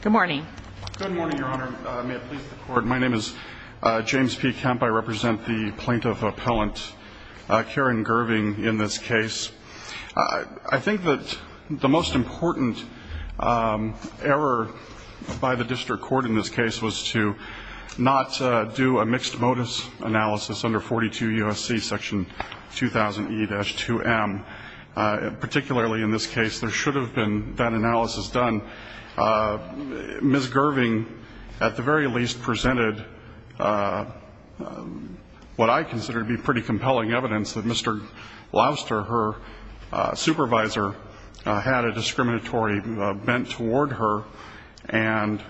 Good morning. My name is James P. Kemp. I represent the plaintiff appellant Karen Gerving in this case. I think that the most important error by the district court in this case was to not do a mixed-modus analysis under 42 U.S.C. section 2000 E-2M. Particularly in this case, there should have been that analysis done by the district court. Ms. Gerving, at the very least, presented what I consider to be pretty compelling evidence that Mr. Gloucester, her supervisor, had a discriminatory bent toward her. And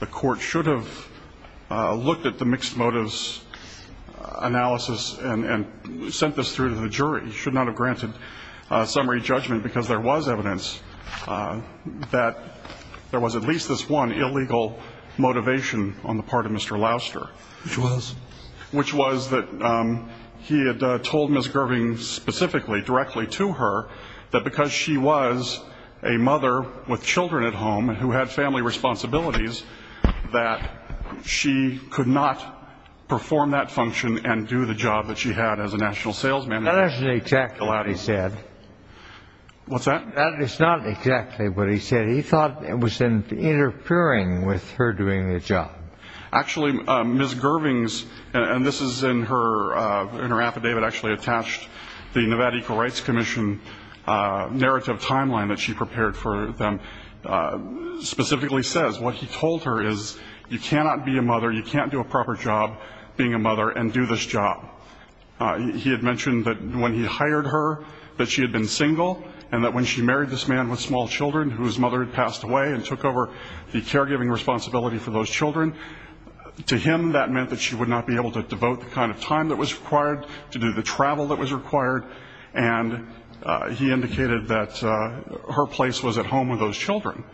the court should have looked at the mixed-motives analysis and sent this through to the jury. It should not have granted summary judgment because there was evidence that there was at least this one illegal motivation on the part of Mr. Gloucester. Which was? Which was that he had told Ms. Gerving specifically, directly to her, that because she was a mother with children at home who had family responsibilities, that she could not perform that function and do the job that she had as a national salesman. That isn't exactly what he said. What's that? That is not exactly what he said. He thought it was interfering with her doing the job. Actually, Ms. Gerving's, and this is in her affidavit actually attached, the Nevada Equal Rights Commission narrative timeline that she prepared for them, specifically says, what he told her is, you cannot be a mother, you can't do a proper job being a mother and do this job. He had mentioned that when he hired her, that she had been single, and that when she married this man with small children whose mother had passed away and took over the caregiving responsibility for those children, to him that meant that she would not be able to devote the kind of time that was required to do the travel that was required. And he indicated that her place was at home with those children.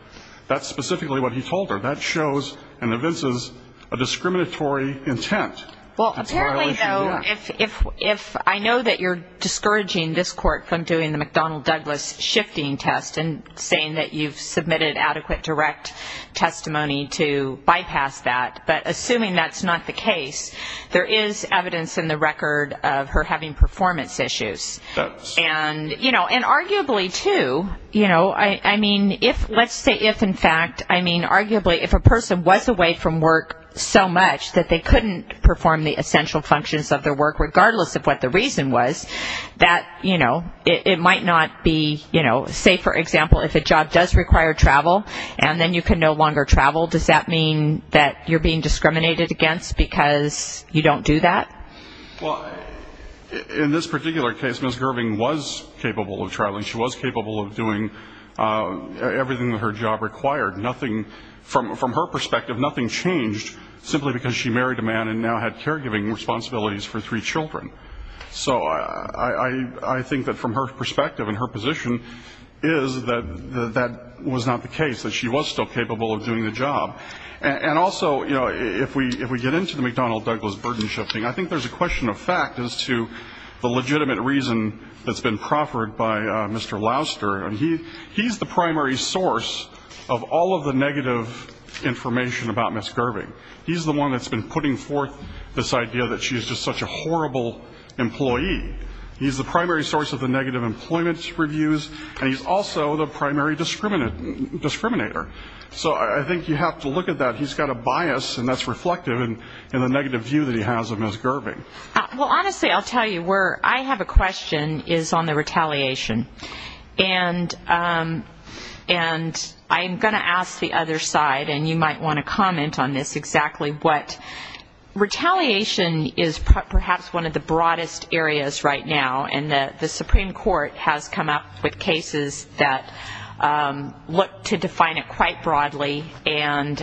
That's specifically what he told her. That shows and evinces a discriminatory intent. Well, apparently, though, if I know that you're discouraging this court from doing the McDonnell-Douglas shifting test and saying that you've submitted adequate direct testimony to bypass that, but assuming that's not the case, there is evidence in the record of her having performance issues. And arguably, too, you know, I mean, let's say if, in fact, I mean, arguably, if a person was away from work so much that they couldn't perform the essential functions of their work, regardless of what the reason was, that, you know, it might not be, you know, say, for example, if a job does require travel, and then you can no longer travel, does that mean that you're being discriminated against because you don't do that? Well, in this particular case, Ms. Gerving was capable of traveling. She was capable of doing everything that her job required. Nothing, from her perspective, nothing changed simply because she married a man and now had caregiving responsibilities for three children. So I think that from her perspective and her position is that that was not the case, that she was still capable of doing the job. And also, you know, if we get into the McDonnell-Douglas burden shifting, I think there's a question of fact as to the legitimate reason that's been proffered by Mr. Louster, and he's the primary source of all of the negative information about Ms. Gerving. He's the one that's been putting forth this idea that she's just such a horrible employee. He's the primary source of the negative employment reviews, and he's also the primary discriminator. So I think you have to look at that. He's got a bias, and that's reflective in the negative view that he has of Ms. Gerving. Well, honestly, I'll tell you where I have a question is on the retaliation. And I'm going to ask the other side, and you might want to comment on this exactly, what retaliation is perhaps one of the broadest areas right now, and the Supreme Court has come up with cases that look to define it quite broadly. And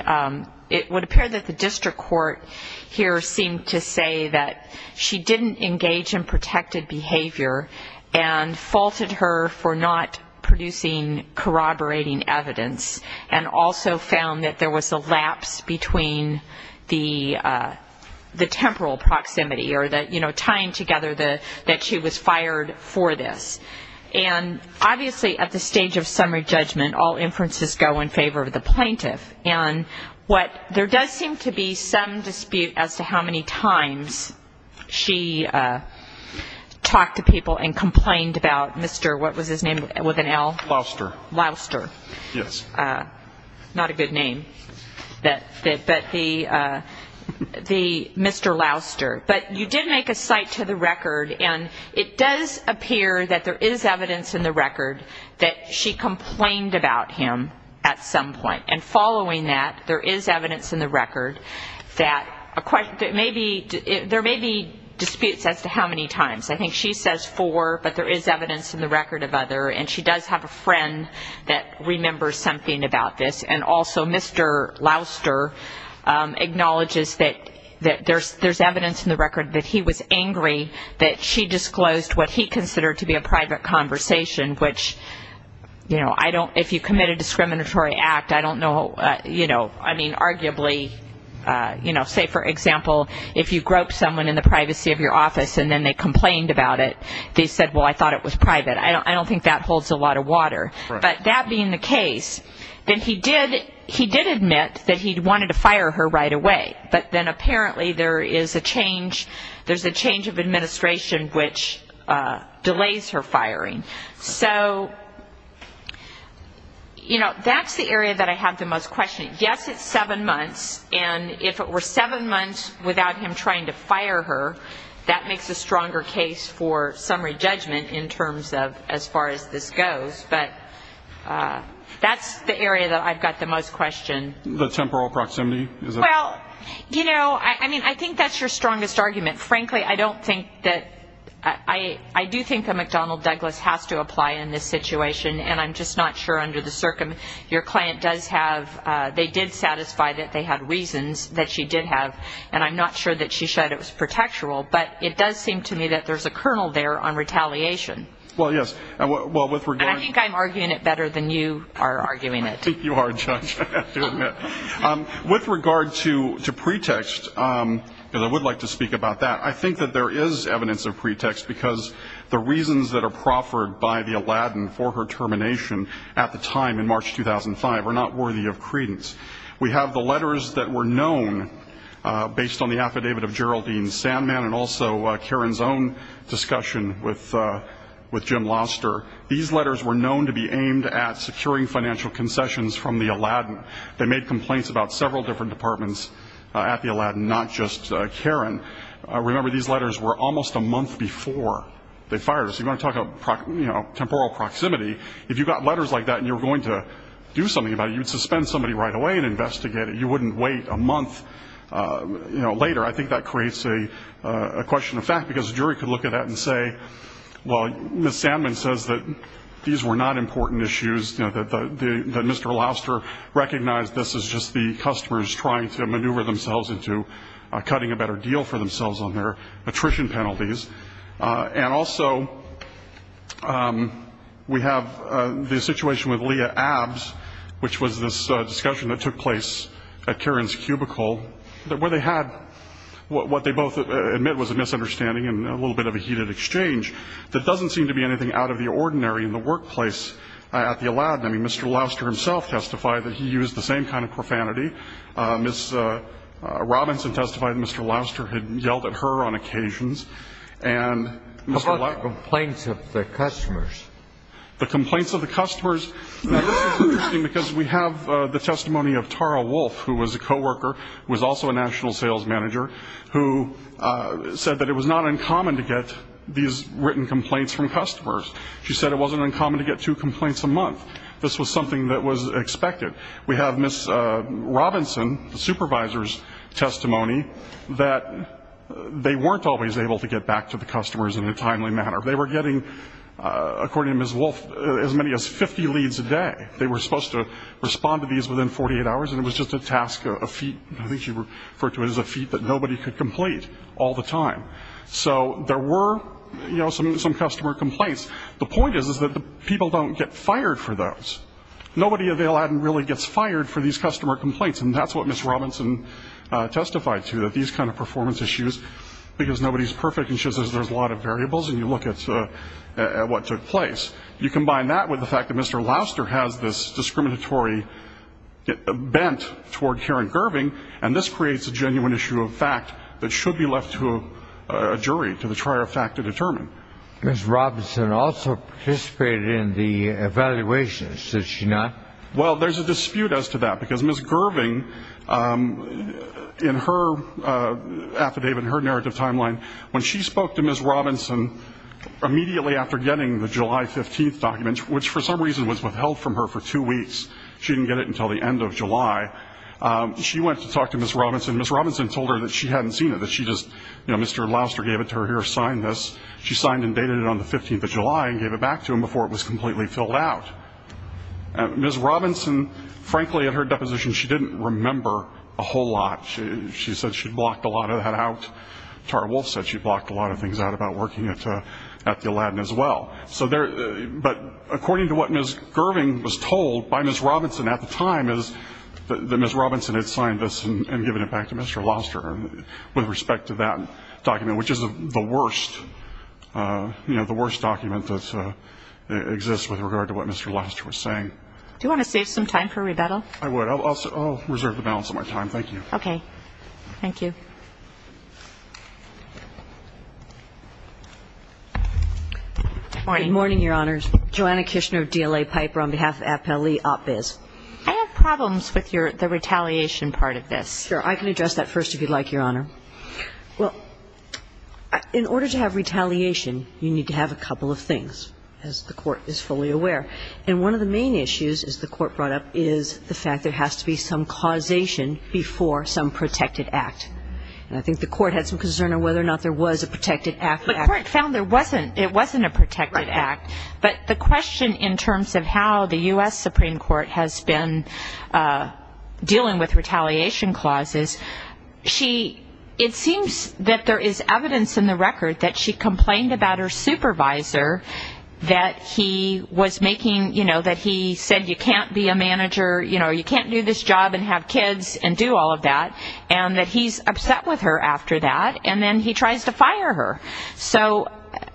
it would appear that the district court here seemed to say that she didn't engage in protected behavior and faulted her for not producing corroborating evidence, and also found that there was a lapse between the temporal proximity, or that, you know, tying together that she was fired for this. And obviously at the stage of summary judgment, all inferences go in favor of the plaintiff. And what there does seem to be some dispute as to how many times she talked to people and complained about Mr. What was his name with an L? Louster. Louster. Yes. Not a good name. But the Mr. Louster. But you did make a cite to the record, and it does appear that there is evidence in the record that she complained about him at some point. And following that, there is evidence in the record that there may be disputes as to how many times. I think she says four, but there is evidence in the record of other, and she does have a friend that remembers something about this. And also Mr. Louster acknowledges that there is evidence in the record that he was angry that she disclosed what he considered to be a private conversation, which, you know, if you commit a discriminatory act, I don't know, you know, I mean, arguably, you know, say, for example, if you groped someone in the privacy of your office and then they complained about it, they said, well, I thought it was private. I don't think that holds a lot of water. But that being the case, then he did admit that he wanted to fire her right away. But then apparently there is a change of administration which delays her firing. So, you know, that's the area that I have the most questioning. Yes, it's seven months, and if it were seven months without him trying to fire her, that makes a stronger case for summary judgment in terms of as far as this goes. But that's the area that I've got the most question. The temporal proximity? Well, you know, I mean, I think that's your strongest argument. Frankly, I don't think that – I do think that McDonnell Douglas has to apply in this situation, and I'm just not sure under the circumstances. Your client does have – they did satisfy that they had reasons that she did have, and I'm not sure that she said it was protectoral. But it does seem to me that there's a kernel there on retaliation. Well, yes. And I think I'm arguing it better than you are arguing it. I think you are, Judge. With regard to pretext, because I would like to speak about that, I think that there is evidence of pretext because the reasons that are proffered by the Aladdin for her termination at the time in March 2005 are not worthy of credence. We have the letters that were known based on the affidavit of Geraldine Sandman and also Karen's own discussion with Jim Loster. These letters were known to be aimed at securing financial concessions from the Aladdin. They made complaints about several different departments at the Aladdin, not just Karen. Remember, these letters were almost a month before they fired her. So you're going to talk about temporal proximity. If you got letters like that and you were going to do something about it, you would suspend somebody right away and investigate it. You wouldn't wait a month later. I think that creates a question of fact because a jury could look at that and say, well, Ms. Sandman says that these were not important issues, that Mr. Loster recognized this as just the customers trying to maneuver themselves into cutting a better deal for themselves on their attrition penalties. And also we have the situation with Leah Abbs, which was this discussion that took place at Karen's cubicle, where they had what they both admit was a misunderstanding and a little bit of a heated exchange that doesn't seem to be anything out of the ordinary in the workplace at the Aladdin. I mean, Mr. Loster himself testified that he used the same kind of profanity. Ms. Robinson testified that Mr. Loster had yelled at her on occasions. And Mr. Loster ---- What about the complaints of the customers? The complaints of the customers, because we have the testimony of Tara Wolf, who was a coworker, who was also a national sales manager, who said that it was not uncommon to get these written complaints from customers. She said it wasn't uncommon to get two complaints a month. This was something that was expected. We have Ms. Robinson, the supervisor's testimony, that they weren't always able to get back to the customers in a timely manner. They were getting, according to Ms. Wolf, as many as 50 leads a day. They were supposed to respond to these within 48 hours, and it was just a task, a feat. I think she referred to it as a feat that nobody could complete all the time. So there were some customer complaints. The point is that people don't get fired for those. Nobody at the Aladdin really gets fired for these customer complaints, and that's what Ms. Robinson testified to, that these kind of performance issues, because nobody's perfect, and she says there's a lot of variables, and you look at what took place. You combine that with the fact that Mr. Louster has this discriminatory bent toward Karen Gerving, and this creates a genuine issue of fact that should be left to a jury, to the trier of fact to determine. Ms. Robinson also participated in the evaluation. Did she not? Well, there's a dispute as to that, because Ms. Gerving, in her affidavit, in her narrative timeline, when she spoke to Ms. Robinson immediately after getting the July 15th document, which for some reason was withheld from her for two weeks, she didn't get it until the end of July, she went to talk to Ms. Robinson. Ms. Robinson told her that she hadn't seen it, that she just, you know, Mr. Louster gave it to her here, signed this. She signed and dated it on the 15th of July and gave it back to him before it was completely filled out. Ms. Robinson, frankly, at her deposition, she didn't remember a whole lot. She said she'd blocked a lot of that out. Tara Wolf said she'd blocked a lot of things out about working at the Aladdin as well. But according to what Ms. Gerving was told by Ms. Robinson at the time is that Ms. Robinson had signed this and given it back to Mr. Louster with respect to that document, which is the worst, you know, the worst document that exists with regard to what Mr. Louster was saying. Do you want to save some time for rebuttal? I would. I'll reserve the balance of my time. Thank you. Okay. Thank you. Good morning, Your Honors. Joanna Kishner of DLA Piper on behalf of Appellee Op-Biz. I have problems with the retaliation part of this. Sure. I can address that first if you'd like, Your Honor. Well, in order to have retaliation, you need to have a couple of things, as the Court is fully aware. And one of the main issues, as the Court brought up, is the fact there has to be some causation before some protected act. And I think the Court had some concern on whether or not there was a protected act. The Court found there wasn't. It wasn't a protected act. But the question in terms of how the U.S. Supreme Court has been dealing with retaliation clauses, it seems that there is evidence in the record that she complained about her supervisor, that he said you can't be a manager, you can't do this job and have kids and do all of that, and that he's upset with her after that. And then he tries to fire her. So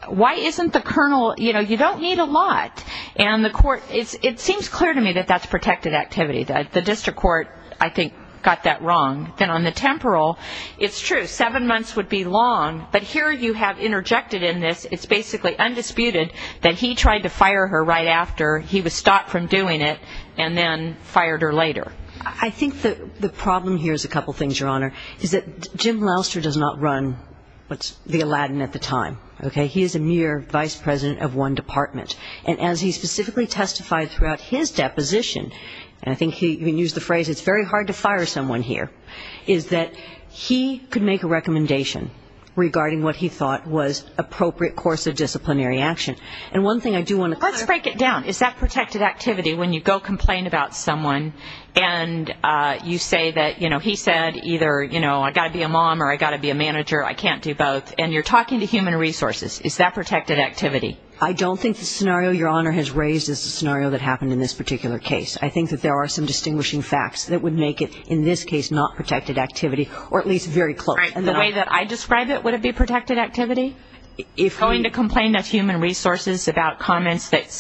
why isn't the Colonel, you know, you don't need a lot. And it seems clear to me that that's protected activity. The district court, I think, got that wrong. Then on the temporal, it's true, seven months would be long. But here you have interjected in this, it's basically undisputed, that he tried to fire her right after he was stopped from doing it and then fired her later. I think the problem here is a couple of things, Your Honor, is that Jim Lallister does not run what's the Aladdin at the time, okay? He is a mere vice president of one department. And as he specifically testified throughout his deposition, and I think he even used the phrase it's very hard to fire someone here, is that he could make a recommendation regarding what he thought was appropriate course of disciplinary action. And one thing I do want to clarify. Let's break it down. Is that protected activity when you go complain about someone and you say that, you know, he said either, you know, I've got to be a mom or I've got to be a manager, I can't do both, and you're talking to human resources, is that protected activity? I don't think the scenario Your Honor has raised is the scenario that happened in this particular case. I think that there are some distinguishing facts that would make it, in this case, not protected activity, or at least very close. The way that I describe it, would it be protected activity? Going to complain to human resources about comments that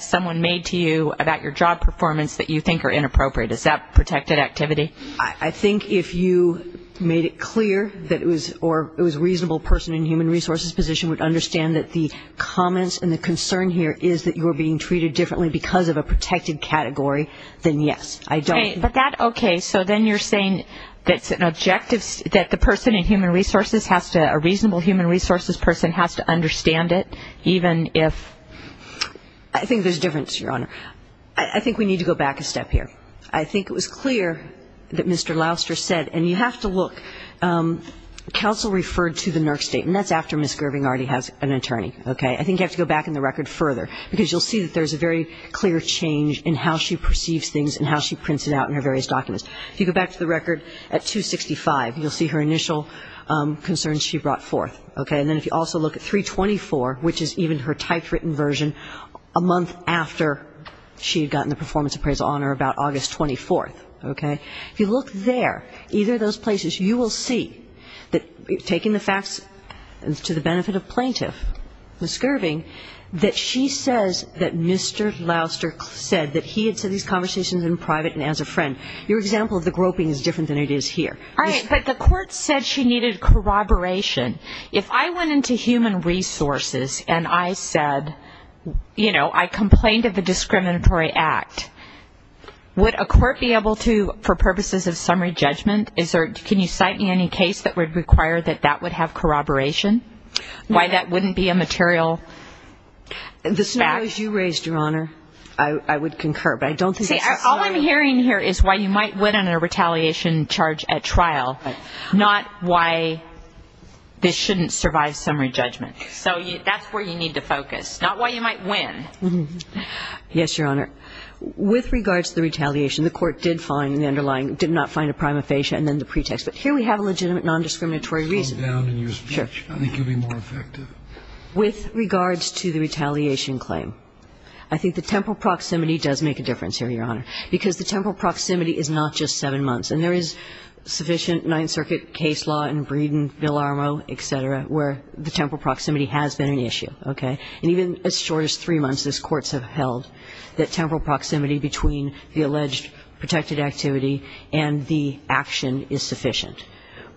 someone made to you about your job performance that you think are inappropriate, is that protected activity? I think if you made it clear that it was a reasonable person in human resources position would understand that the comments and the concern here is that you were being treated differently because of a protected category, then yes, I don't. But that, okay, so then you're saying that's an objective, that the person in human resources has to, a reasonable human resources person has to understand it, even if. I think there's a difference, Your Honor. I think we need to go back a step here. I think it was clear that Mr. Louster said, and you have to look, counsel referred to the NERC statement. That's after Ms. Gerving already has an attorney. I think you have to go back in the record further, because you'll see that there's a very clear change in how she perceives things and how she prints it out in her various documents. If you go back to the record at 265, you'll see her initial concerns she brought forth. And then if you also look at 324, which is even her typed written version, a month after she had gotten the performance appraisal on her, about August 24th. Okay? If you look there, either of those places, you will see that taking the facts to the benefit of plaintiff, Ms. Gerving, that she says that Mr. Louster said that he had said these conversations in private and as a friend. Your example of the groping is different than it is here. All right, but the court said she needed corroboration. If I went into human resources and I said, you know, I complained of a discriminatory act, would a court be able to, for purposes of summary judgment, can you cite me any case that would require that that would have corroboration? Why that wouldn't be a material fact? The scenarios you raised, Your Honor, I would concur, but I don't think that's a scenario. See, all I'm hearing here is why you might win on a retaliation charge at trial, not why this shouldn't survive summary judgment. So that's where you need to focus, not why you might win. Yes, Your Honor. With regards to the retaliation, the court did find the underlying, did not find a prima facie, and then the pretext. But here we have a legitimate nondiscriminatory reason. Calm down in your speech. Sure. I think you'll be more effective. With regards to the retaliation claim, I think the temporal proximity does make a difference here, Your Honor, because the temporal proximity is not just seven months. And there is sufficient Ninth Circuit case law in Breeden, Villarmo, et cetera, where the temporal proximity has been an issue, okay? And even as short as three months as courts have held, that temporal proximity between the alleged protected activity and the action is sufficient.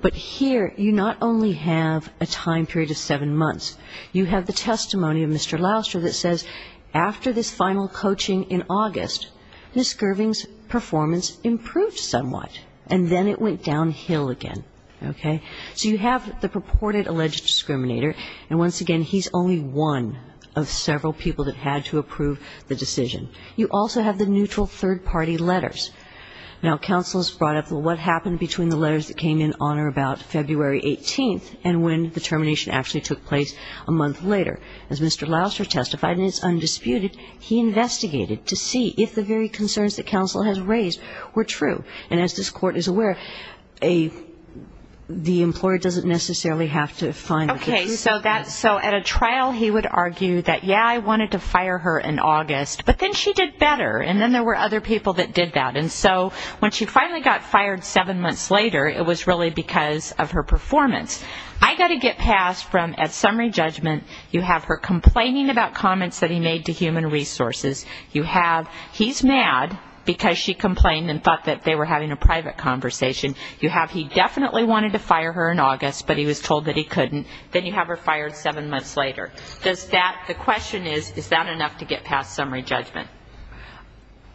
But here you not only have a time period of seven months. You have the testimony of Mr. Louster that says after this final coaching in August, Ms. Gerving's performance improved somewhat, and then it went downhill again, okay? So you have the purported alleged discriminator, and once again, he's only one of several people that had to approve the decision. You also have the neutral third-party letters. Now, counsel has brought up what happened between the letters that came in on or about February 18th and when the termination actually took place a month later. As Mr. Louster testified, and it's undisputed, he investigated to see if the very concerns that counsel has raised were true. And as this court is aware, the employer doesn't necessarily have to find the truth of that. Okay, so at a trial he would argue that, yeah, I wanted to fire her in August, but then she did better, and then there were other people that did that. And so when she finally got fired seven months later, it was really because of her performance. I got a get pass from, at summary judgment, you have her complaining about comments that he made to Human Resources. You have he's mad because she complained and thought that they were having a private conversation. You have he definitely wanted to fire her in August, but he was told that he couldn't. Then you have her fired seven months later. Does that the question is, is that enough to get past summary judgment?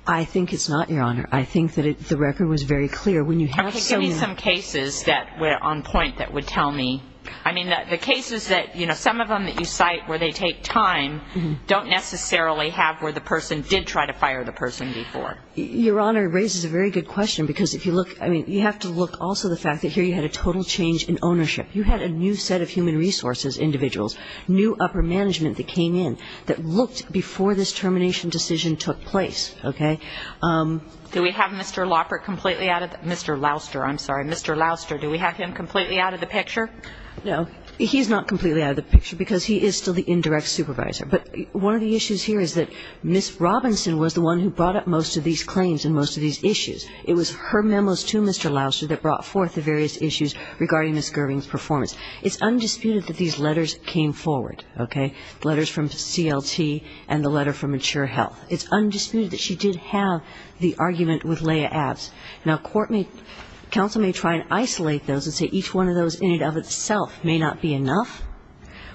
I think it's not, Your Honor. I think that the record was very clear. Okay, give me some cases that were on point that would tell me. I mean, the cases that, you know, some of them that you cite where they take time don't necessarily have where the person did try to fire the person before. Your Honor raises a very good question, because if you look, I mean, you have to look also the fact that here you had a total change in ownership. You had a new set of Human Resources individuals, new upper management that came in, that looked before this termination decision took place, okay? Do we have Mr. Lauper completely out of the picture? Mr. Louster, I'm sorry. Mr. Louster, do we have him completely out of the picture? No, he's not completely out of the picture because he is still the indirect supervisor. But one of the issues here is that Ms. Robinson was the one who brought up most of these claims and most of these issues. It was her memos to Mr. Louster that brought forth the various issues regarding Ms. Gerving's performance. It's undisputed that these letters came forward, okay, the letters from CLT and the letter from Mature Health. It's undisputed that she did have the argument with Leah Abbs. Now, court may – counsel may try and isolate those and say each one of those in and of itself may not be enough,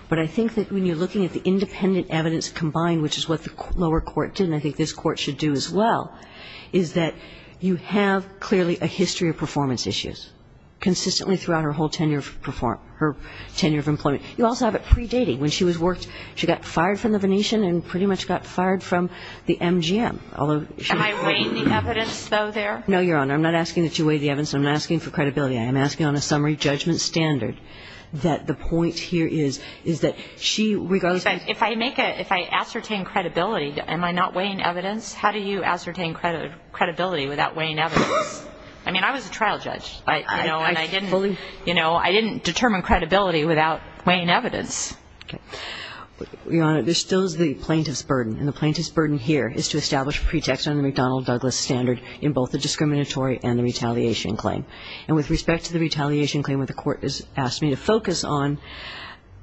but I think that when you're looking at the independent evidence combined, which is what the lower court did and I think this Court should do as well, is that you have clearly a history of performance issues consistently throughout her whole tenure of performance – her tenure of employment. You also have it predating. When she was worked, she got fired from the Venetian and pretty much got fired from the MGM, although she – Am I weighing the evidence, though, there? No, Your Honor. I'm not asking that you weigh the evidence. I'm not asking for credibility. regardless of – If I make a – if I ascertain credibility, am I not weighing evidence? How do you ascertain credibility without weighing evidence? I mean, I was a trial judge, you know, and I didn't – I fully – You know, I didn't determine credibility without weighing evidence. Okay. Your Honor, there still is the plaintiff's burden, and the plaintiff's burden here is to establish pretext on the McDonnell-Douglas standard in both the discriminatory and the retaliation claim. And with respect to the retaliation claim, what the Court has asked me to focus on,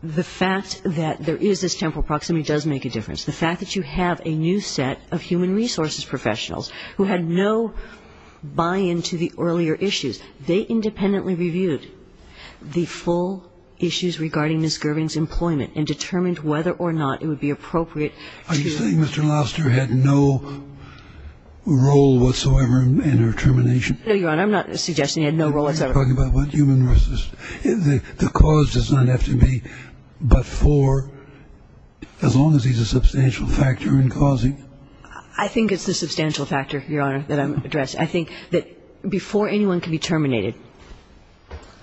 the fact that there is this temporal proximity does make a difference. The fact that you have a new set of human resources professionals who had no buy-in to the earlier issues, they independently reviewed the full issues regarding Ms. Gervin's employment and determined whether or not it would be appropriate to – Are you saying Mr. Lobster had no role whatsoever in her termination? No, Your Honor. I'm not suggesting he had no role whatsoever. I'm talking about human resources. The cause does not have to be but for, as long as he's a substantial factor in causing. I think it's the substantial factor, Your Honor, that I'm addressing. I think that before anyone can be terminated,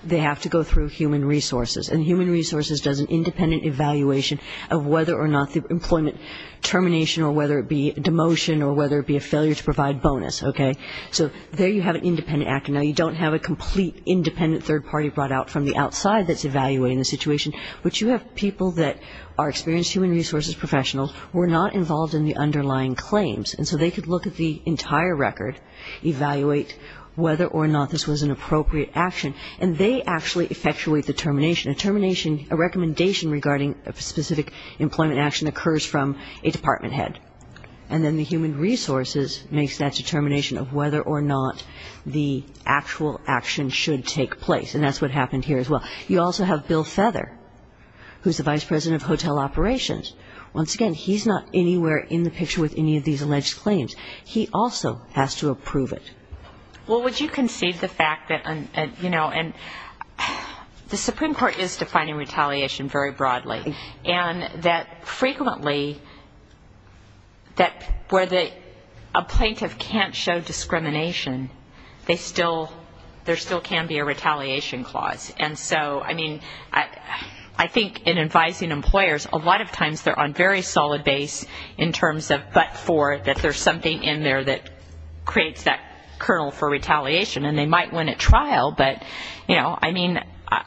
they have to go through human resources. And human resources does an independent evaluation of whether or not the employment termination or whether it be demotion or whether it be a failure to provide bonus. Okay. So there you have an independent actor. Now, you don't have a complete independent third party brought out from the outside that's evaluating the situation. But you have people that are experienced human resources professionals who are not involved in the underlying claims. And so they could look at the entire record, evaluate whether or not this was an appropriate action, and they actually effectuate the termination. A termination, a recommendation regarding a specific employment action, occurs from a department head. And then the human resources makes that determination of whether or not the actual action should take place. And that's what happened here as well. You also have Bill Feather, who's the Vice President of Hotel Operations. Once again, he's not anywhere in the picture with any of these alleged claims. He also has to approve it. Well, would you concede the fact that, you know, and the Supreme Court is defining retaliation very broadly, and that frequently where a plaintiff can't show discrimination, there still can be a retaliation clause. And so, I mean, I think in advising employers, a lot of times they're on very solid base in terms of but for, that there's something in there that creates that kernel for retaliation. And they might win at trial, but, you know, I mean,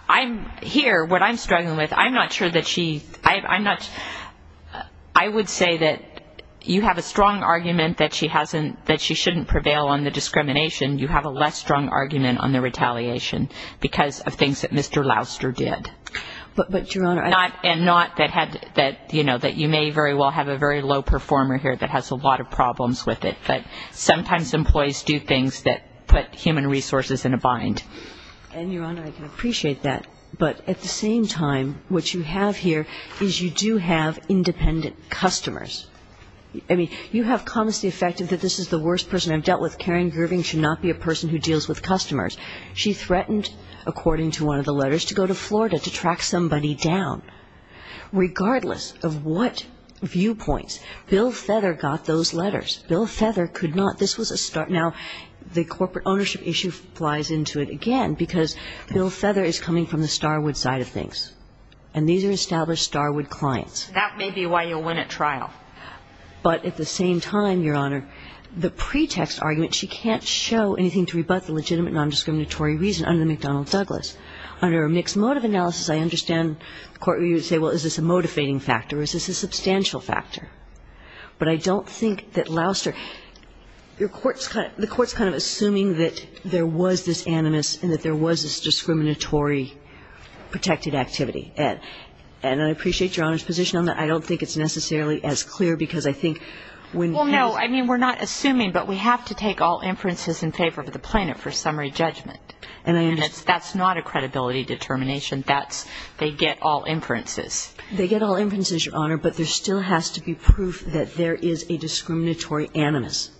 I'm here, what I'm struggling with, I'm not sure that she, I'm not, I would say that you have a strong argument that she hasn't, that she shouldn't prevail on the discrimination. You have a less strong argument on the retaliation, because of things that Mr. Louster did. But, Your Honor, I. And not that, you know, that you may very well have a very low performer here that has a lot of problems with it. But sometimes employees do things that put human resources in a bind. And, Your Honor, I can appreciate that. But at the same time, what you have here is you do have independent customers. I mean, you have come to the effect that this is the worst person I've dealt with. Karen Gerving should not be a person who deals with customers. She threatened, according to one of the letters, to go to Florida to track somebody down. Regardless of what viewpoints, Bill Feather got those letters. Bill Feather could not. This was a start. Now, the corporate ownership issue flies into it again, because Bill Feather is coming from the Starwood side of things. And these are established Starwood clients. That may be why you win at trial. But at the same time, Your Honor, the pretext argument, she can't show anything to rebut the legitimate nondiscriminatory reason under McDonnell-Douglas. Under a mixed motive analysis, I understand the Court would say, well, is this a motivating factor or is this a substantial factor? But I don't think that Louster – the Court is kind of assuming that there was this animus and that there was this discriminatory protected activity. And I appreciate Your Honor's position on that. I don't think it's necessarily as clear, because I think when – Well, no, I mean, we're not assuming, but we have to take all inferences in favor of the plaintiff for summary judgment. And that's not a credibility determination. They get all inferences. They get all inferences, Your Honor, but there still has to be proof that there is a discriminatory animus.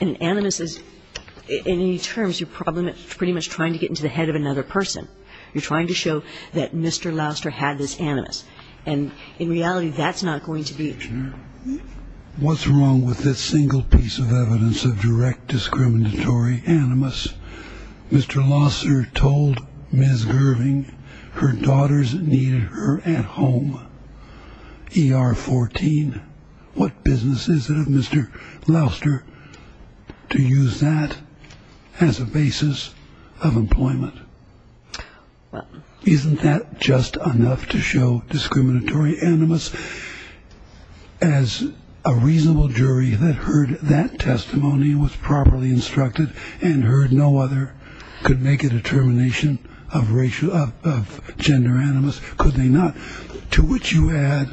And animus is – in many terms, you're pretty much trying to get into the head of another person. You're trying to show that Mr. Louster had this animus. And in reality, that's not going to be. What's wrong with this single piece of evidence of direct discriminatory animus? Mr. Louster told Ms. Irving her daughters needed her at home. ER 14. What business is it of Mr. Louster to use that as a basis of employment? Isn't that just enough to show discriminatory animus? As a reasonable jury that heard that testimony was properly instructed and heard no other could make a determination of gender animus, could they not? To which you add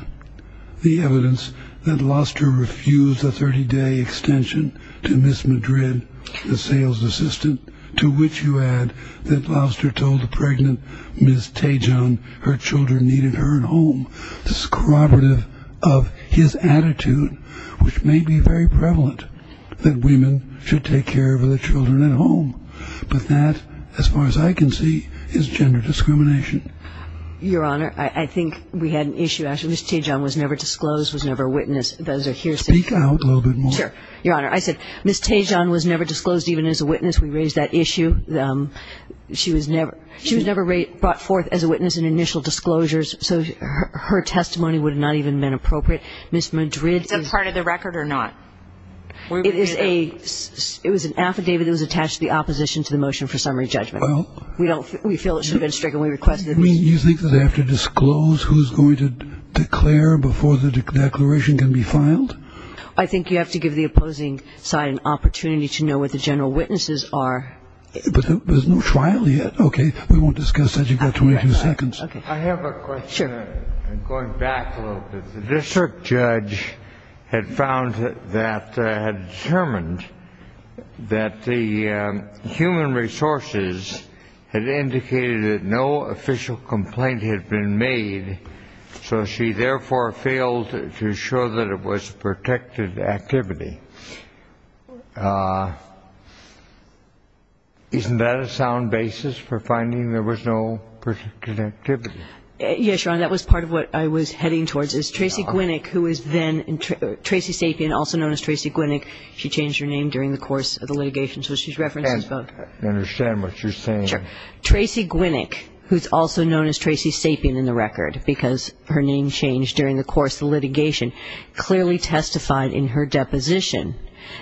the evidence that Louster refused a 30-day extension to Ms. Madrid, the sales assistant, to which you add that Louster told the pregnant Ms. Tejon her children needed her at home, discriminatory of his attitude, which may be very prevalent that women should take care of their children at home. But that, as far as I can see, is gender discrimination. Your Honor, I think we had an issue, actually. Ms. Tejon was never disclosed, was never a witness. Those are hearsay. Speak out a little bit more. Sure. Your Honor, I said Ms. Tejon was never disclosed even as a witness. We raised that issue. She was never brought forth as a witness in initial disclosures. So her testimony would not have even been appropriate. Ms. Madrid is an affidavit that was attached to the opposition to the motion for summary judgment. We feel it should have been stricken. You think they have to disclose who's going to declare before the declaration can be filed? I think you have to give the opposing side an opportunity to know what the general witnesses are. But there's no trial yet. Okay. We won't discuss that. You've got 22 seconds. I have a question. I'm going back a little bit. The district judge had found that, had determined that the human resources had indicated that no official complaint had been made, so she therefore failed to show that it was protected activity. Isn't that a sound basis for finding there was no protected activity? Yes, Your Honor. That was part of what I was heading towards is Tracy Gwinnick, who was then Tracy Sapien, also known as Tracy Gwinnick. She changed her name during the course of the litigation. So she references both. I understand what you're saying. Sure. Tracy Gwinnick, who's also known as Tracy Sapien in the record because her name changed during the course of the litigation, clearly testified in her deposition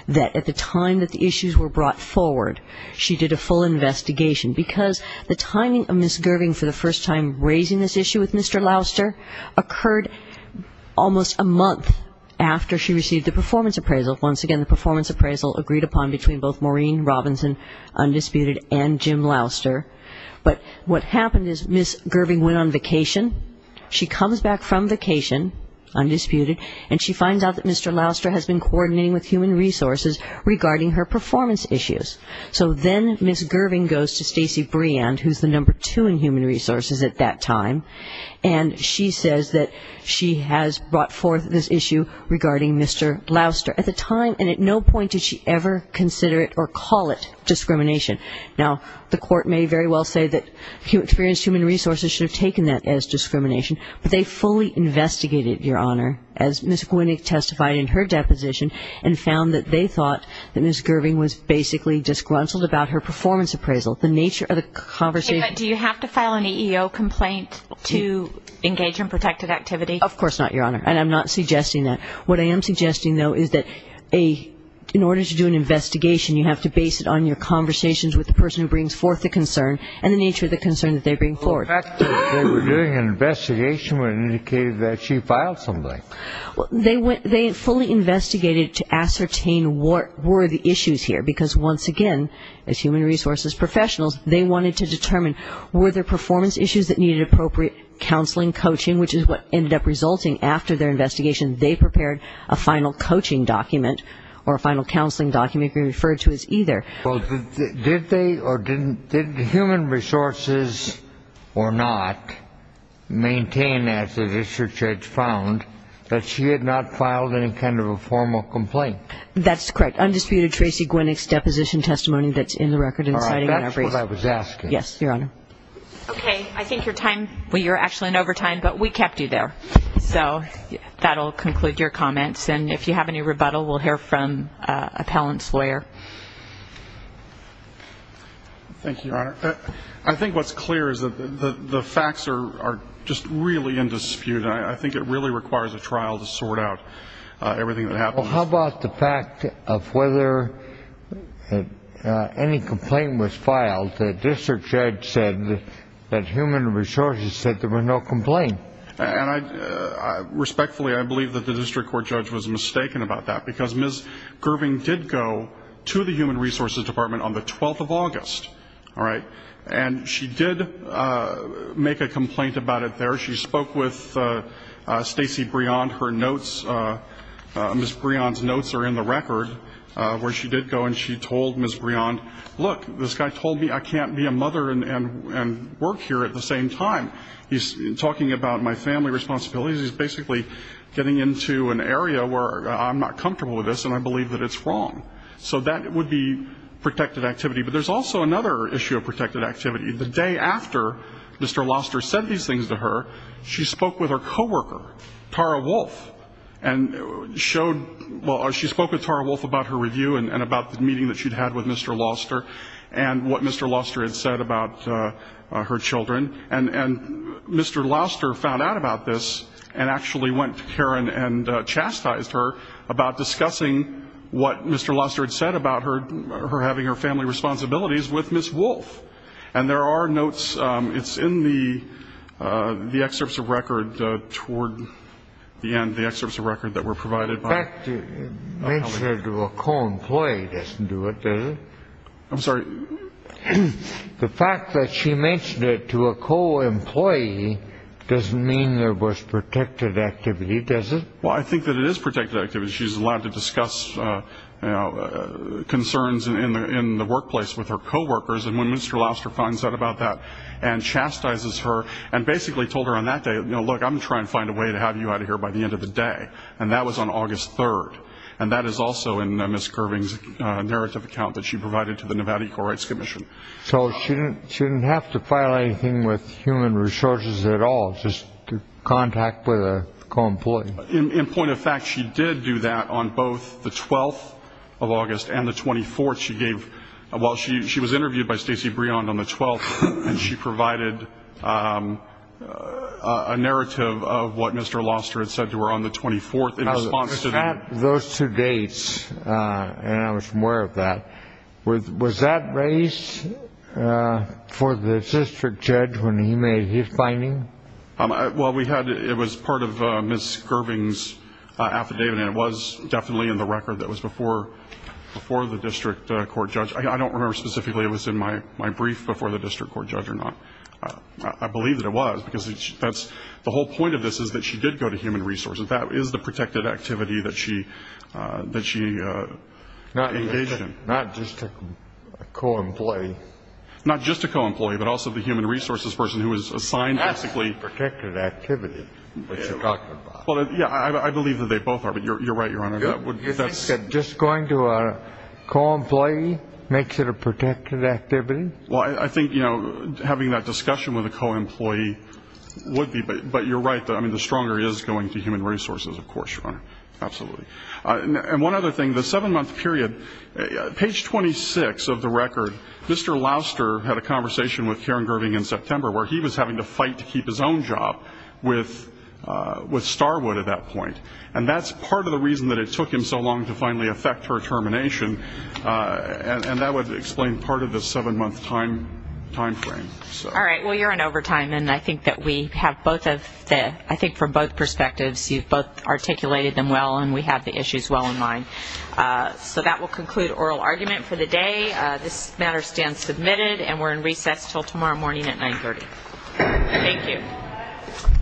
that at the time that the issues were brought forward, she did a full investigation. Because the timing of Ms. Gerving for the first time raising this issue with Mr. Louster occurred almost a month after she received the performance appraisal. Once again, the performance appraisal agreed upon between both Maureen Robinson, undisputed, and Jim Louster. But what happened is Ms. Gerving went on vacation. She comes back from vacation, undisputed, and she finds out that Mr. Louster has been coordinating with Human Resources regarding her performance issues. So then Ms. Gerving goes to Stacey Breand, who's the number two in Human Resources at that time, and she says that she has brought forth this issue regarding Mr. Louster at the time, and at no point did she ever consider it or call it discrimination. Now, the court may very well say that experienced Human Resources should have taken that as discrimination, but they fully investigated, Your Honor, as Ms. Gwinnick testified in her deposition, and found that they thought that Ms. Gerving was basically disgruntled about her performance appraisal. The nature of the conversation Do you have to file an EEO complaint to engage in protected activity? Of course not, Your Honor, and I'm not suggesting that. What I am suggesting, though, is that in order to do an investigation, you have to base it on your conversations with the person who brings forth the concern and the nature of the concern that they bring forth. The fact that they were doing an investigation would indicate that she filed something. They fully investigated to ascertain what were the issues here, because once again, as Human Resources professionals, they wanted to determine were there performance issues that needed appropriate counseling, coaching, which is what ended up resulting after their a final coaching document or a final counseling document can be referred to as either. Did Human Resources or not maintain, as the district judge found, that she had not filed any kind of a formal complaint? That's correct. Undisputed Tracy Gwinnick's deposition testimony that's in the record. All right. That's what I was asking. Yes, Your Honor. Okay. I think you're actually in overtime, but we kept you there. So that will conclude your comments, and if you have any rebuttal, we'll hear from an appellant's lawyer. Thank you, Your Honor. I think what's clear is that the facts are just really in dispute. I think it really requires a trial to sort out everything that happened. Well, how about the fact of whether any complaint was filed? The district judge said that Human Resources said there was no complaint. And respectfully, I believe that the district court judge was mistaken about that, because Ms. Gerving did go to the Human Resources Department on the 12th of August, all right, and she did make a complaint about it there. She spoke with Stacey Briand. Her notes, Ms. Briand's notes are in the record where she did go, and she told Ms. Briand, look, this guy told me I can't be a mother and work here at the same time. He's talking about my family responsibilities. He's basically getting into an area where I'm not comfortable with this, and I believe that it's wrong. So that would be protected activity. But there's also another issue of protected activity. The day after Mr. Loster said these things to her, she spoke with her coworker, Tara Wolf, and showed or she spoke with Tara Wolf about her review and about the meeting that she'd had with Mr. Loster and what Mr. Loster had said about her children. And Mr. Loster found out about this and actually went to Karen and chastised her about discussing what Mr. Loster had said about her having her family responsibilities with Ms. Wolf. And there are notes, it's in the excerpts of record toward the end, the excerpts of record that were provided. The fact that you mentioned it to a co-employee doesn't do it, does it? I'm sorry? The fact that she mentioned it to a co-employee doesn't mean there was protected activity, does it? Well, I think that it is protected activity. She's allowed to discuss concerns in the workplace with her coworkers. And when Mr. Loster finds out about that and chastises her and basically told her on that day, no, look, I'm going to try and find a way to have you out of here by the end of the day. And that was on August 3rd. And that is also in Ms. Curving's narrative account that she provided to the Nevada Equal Rights Commission. So she didn't have to file anything with human resources at all, just contact with a co-employee? In point of fact, she did do that on both the 12th of August and the 24th. She was interviewed by Stacey Briand on the 12th, and she provided a narrative of what Mr. Loster had said to her on the 24th in response to that. Those two dates, and I was aware of that, was that raised for the district judge when he made his finding? Well, it was part of Ms. Curving's affidavit, and it was definitely in the record that was before the district court judge. I don't remember specifically if it was in my brief before the district court judge or not. I believe that it was, because the whole point of this is that she did go to human resources. That is the protected activity that she engaged in. Not just a co-employee? Not just a co-employee, but also the human resources person who was assigned basically. That's the protected activity that you're talking about. Well, yeah, I believe that they both are, but you're right, Your Honor. You think that just going to a co-employee makes it a protected activity? Well, I think having that discussion with a co-employee would be, but you're right. I mean, the stronger he is going to human resources, of course, Your Honor, absolutely. And one other thing, the seven-month period, page 26 of the record, Mr. Loster had a conversation with Karen Gerving in September where he was having to fight to keep his own job with Starwood at that point. And that's part of the reason that it took him so long to finally effect her termination, and that would explain part of the seven-month time frame. All right. Well, you're in overtime, and I think that we have both of the, I think from both perspectives, you've both articulated them well, and we have the issues well in mind. So that will conclude oral argument for the day. This matter stands submitted, and we're in recess until tomorrow morning at 930. Thank you.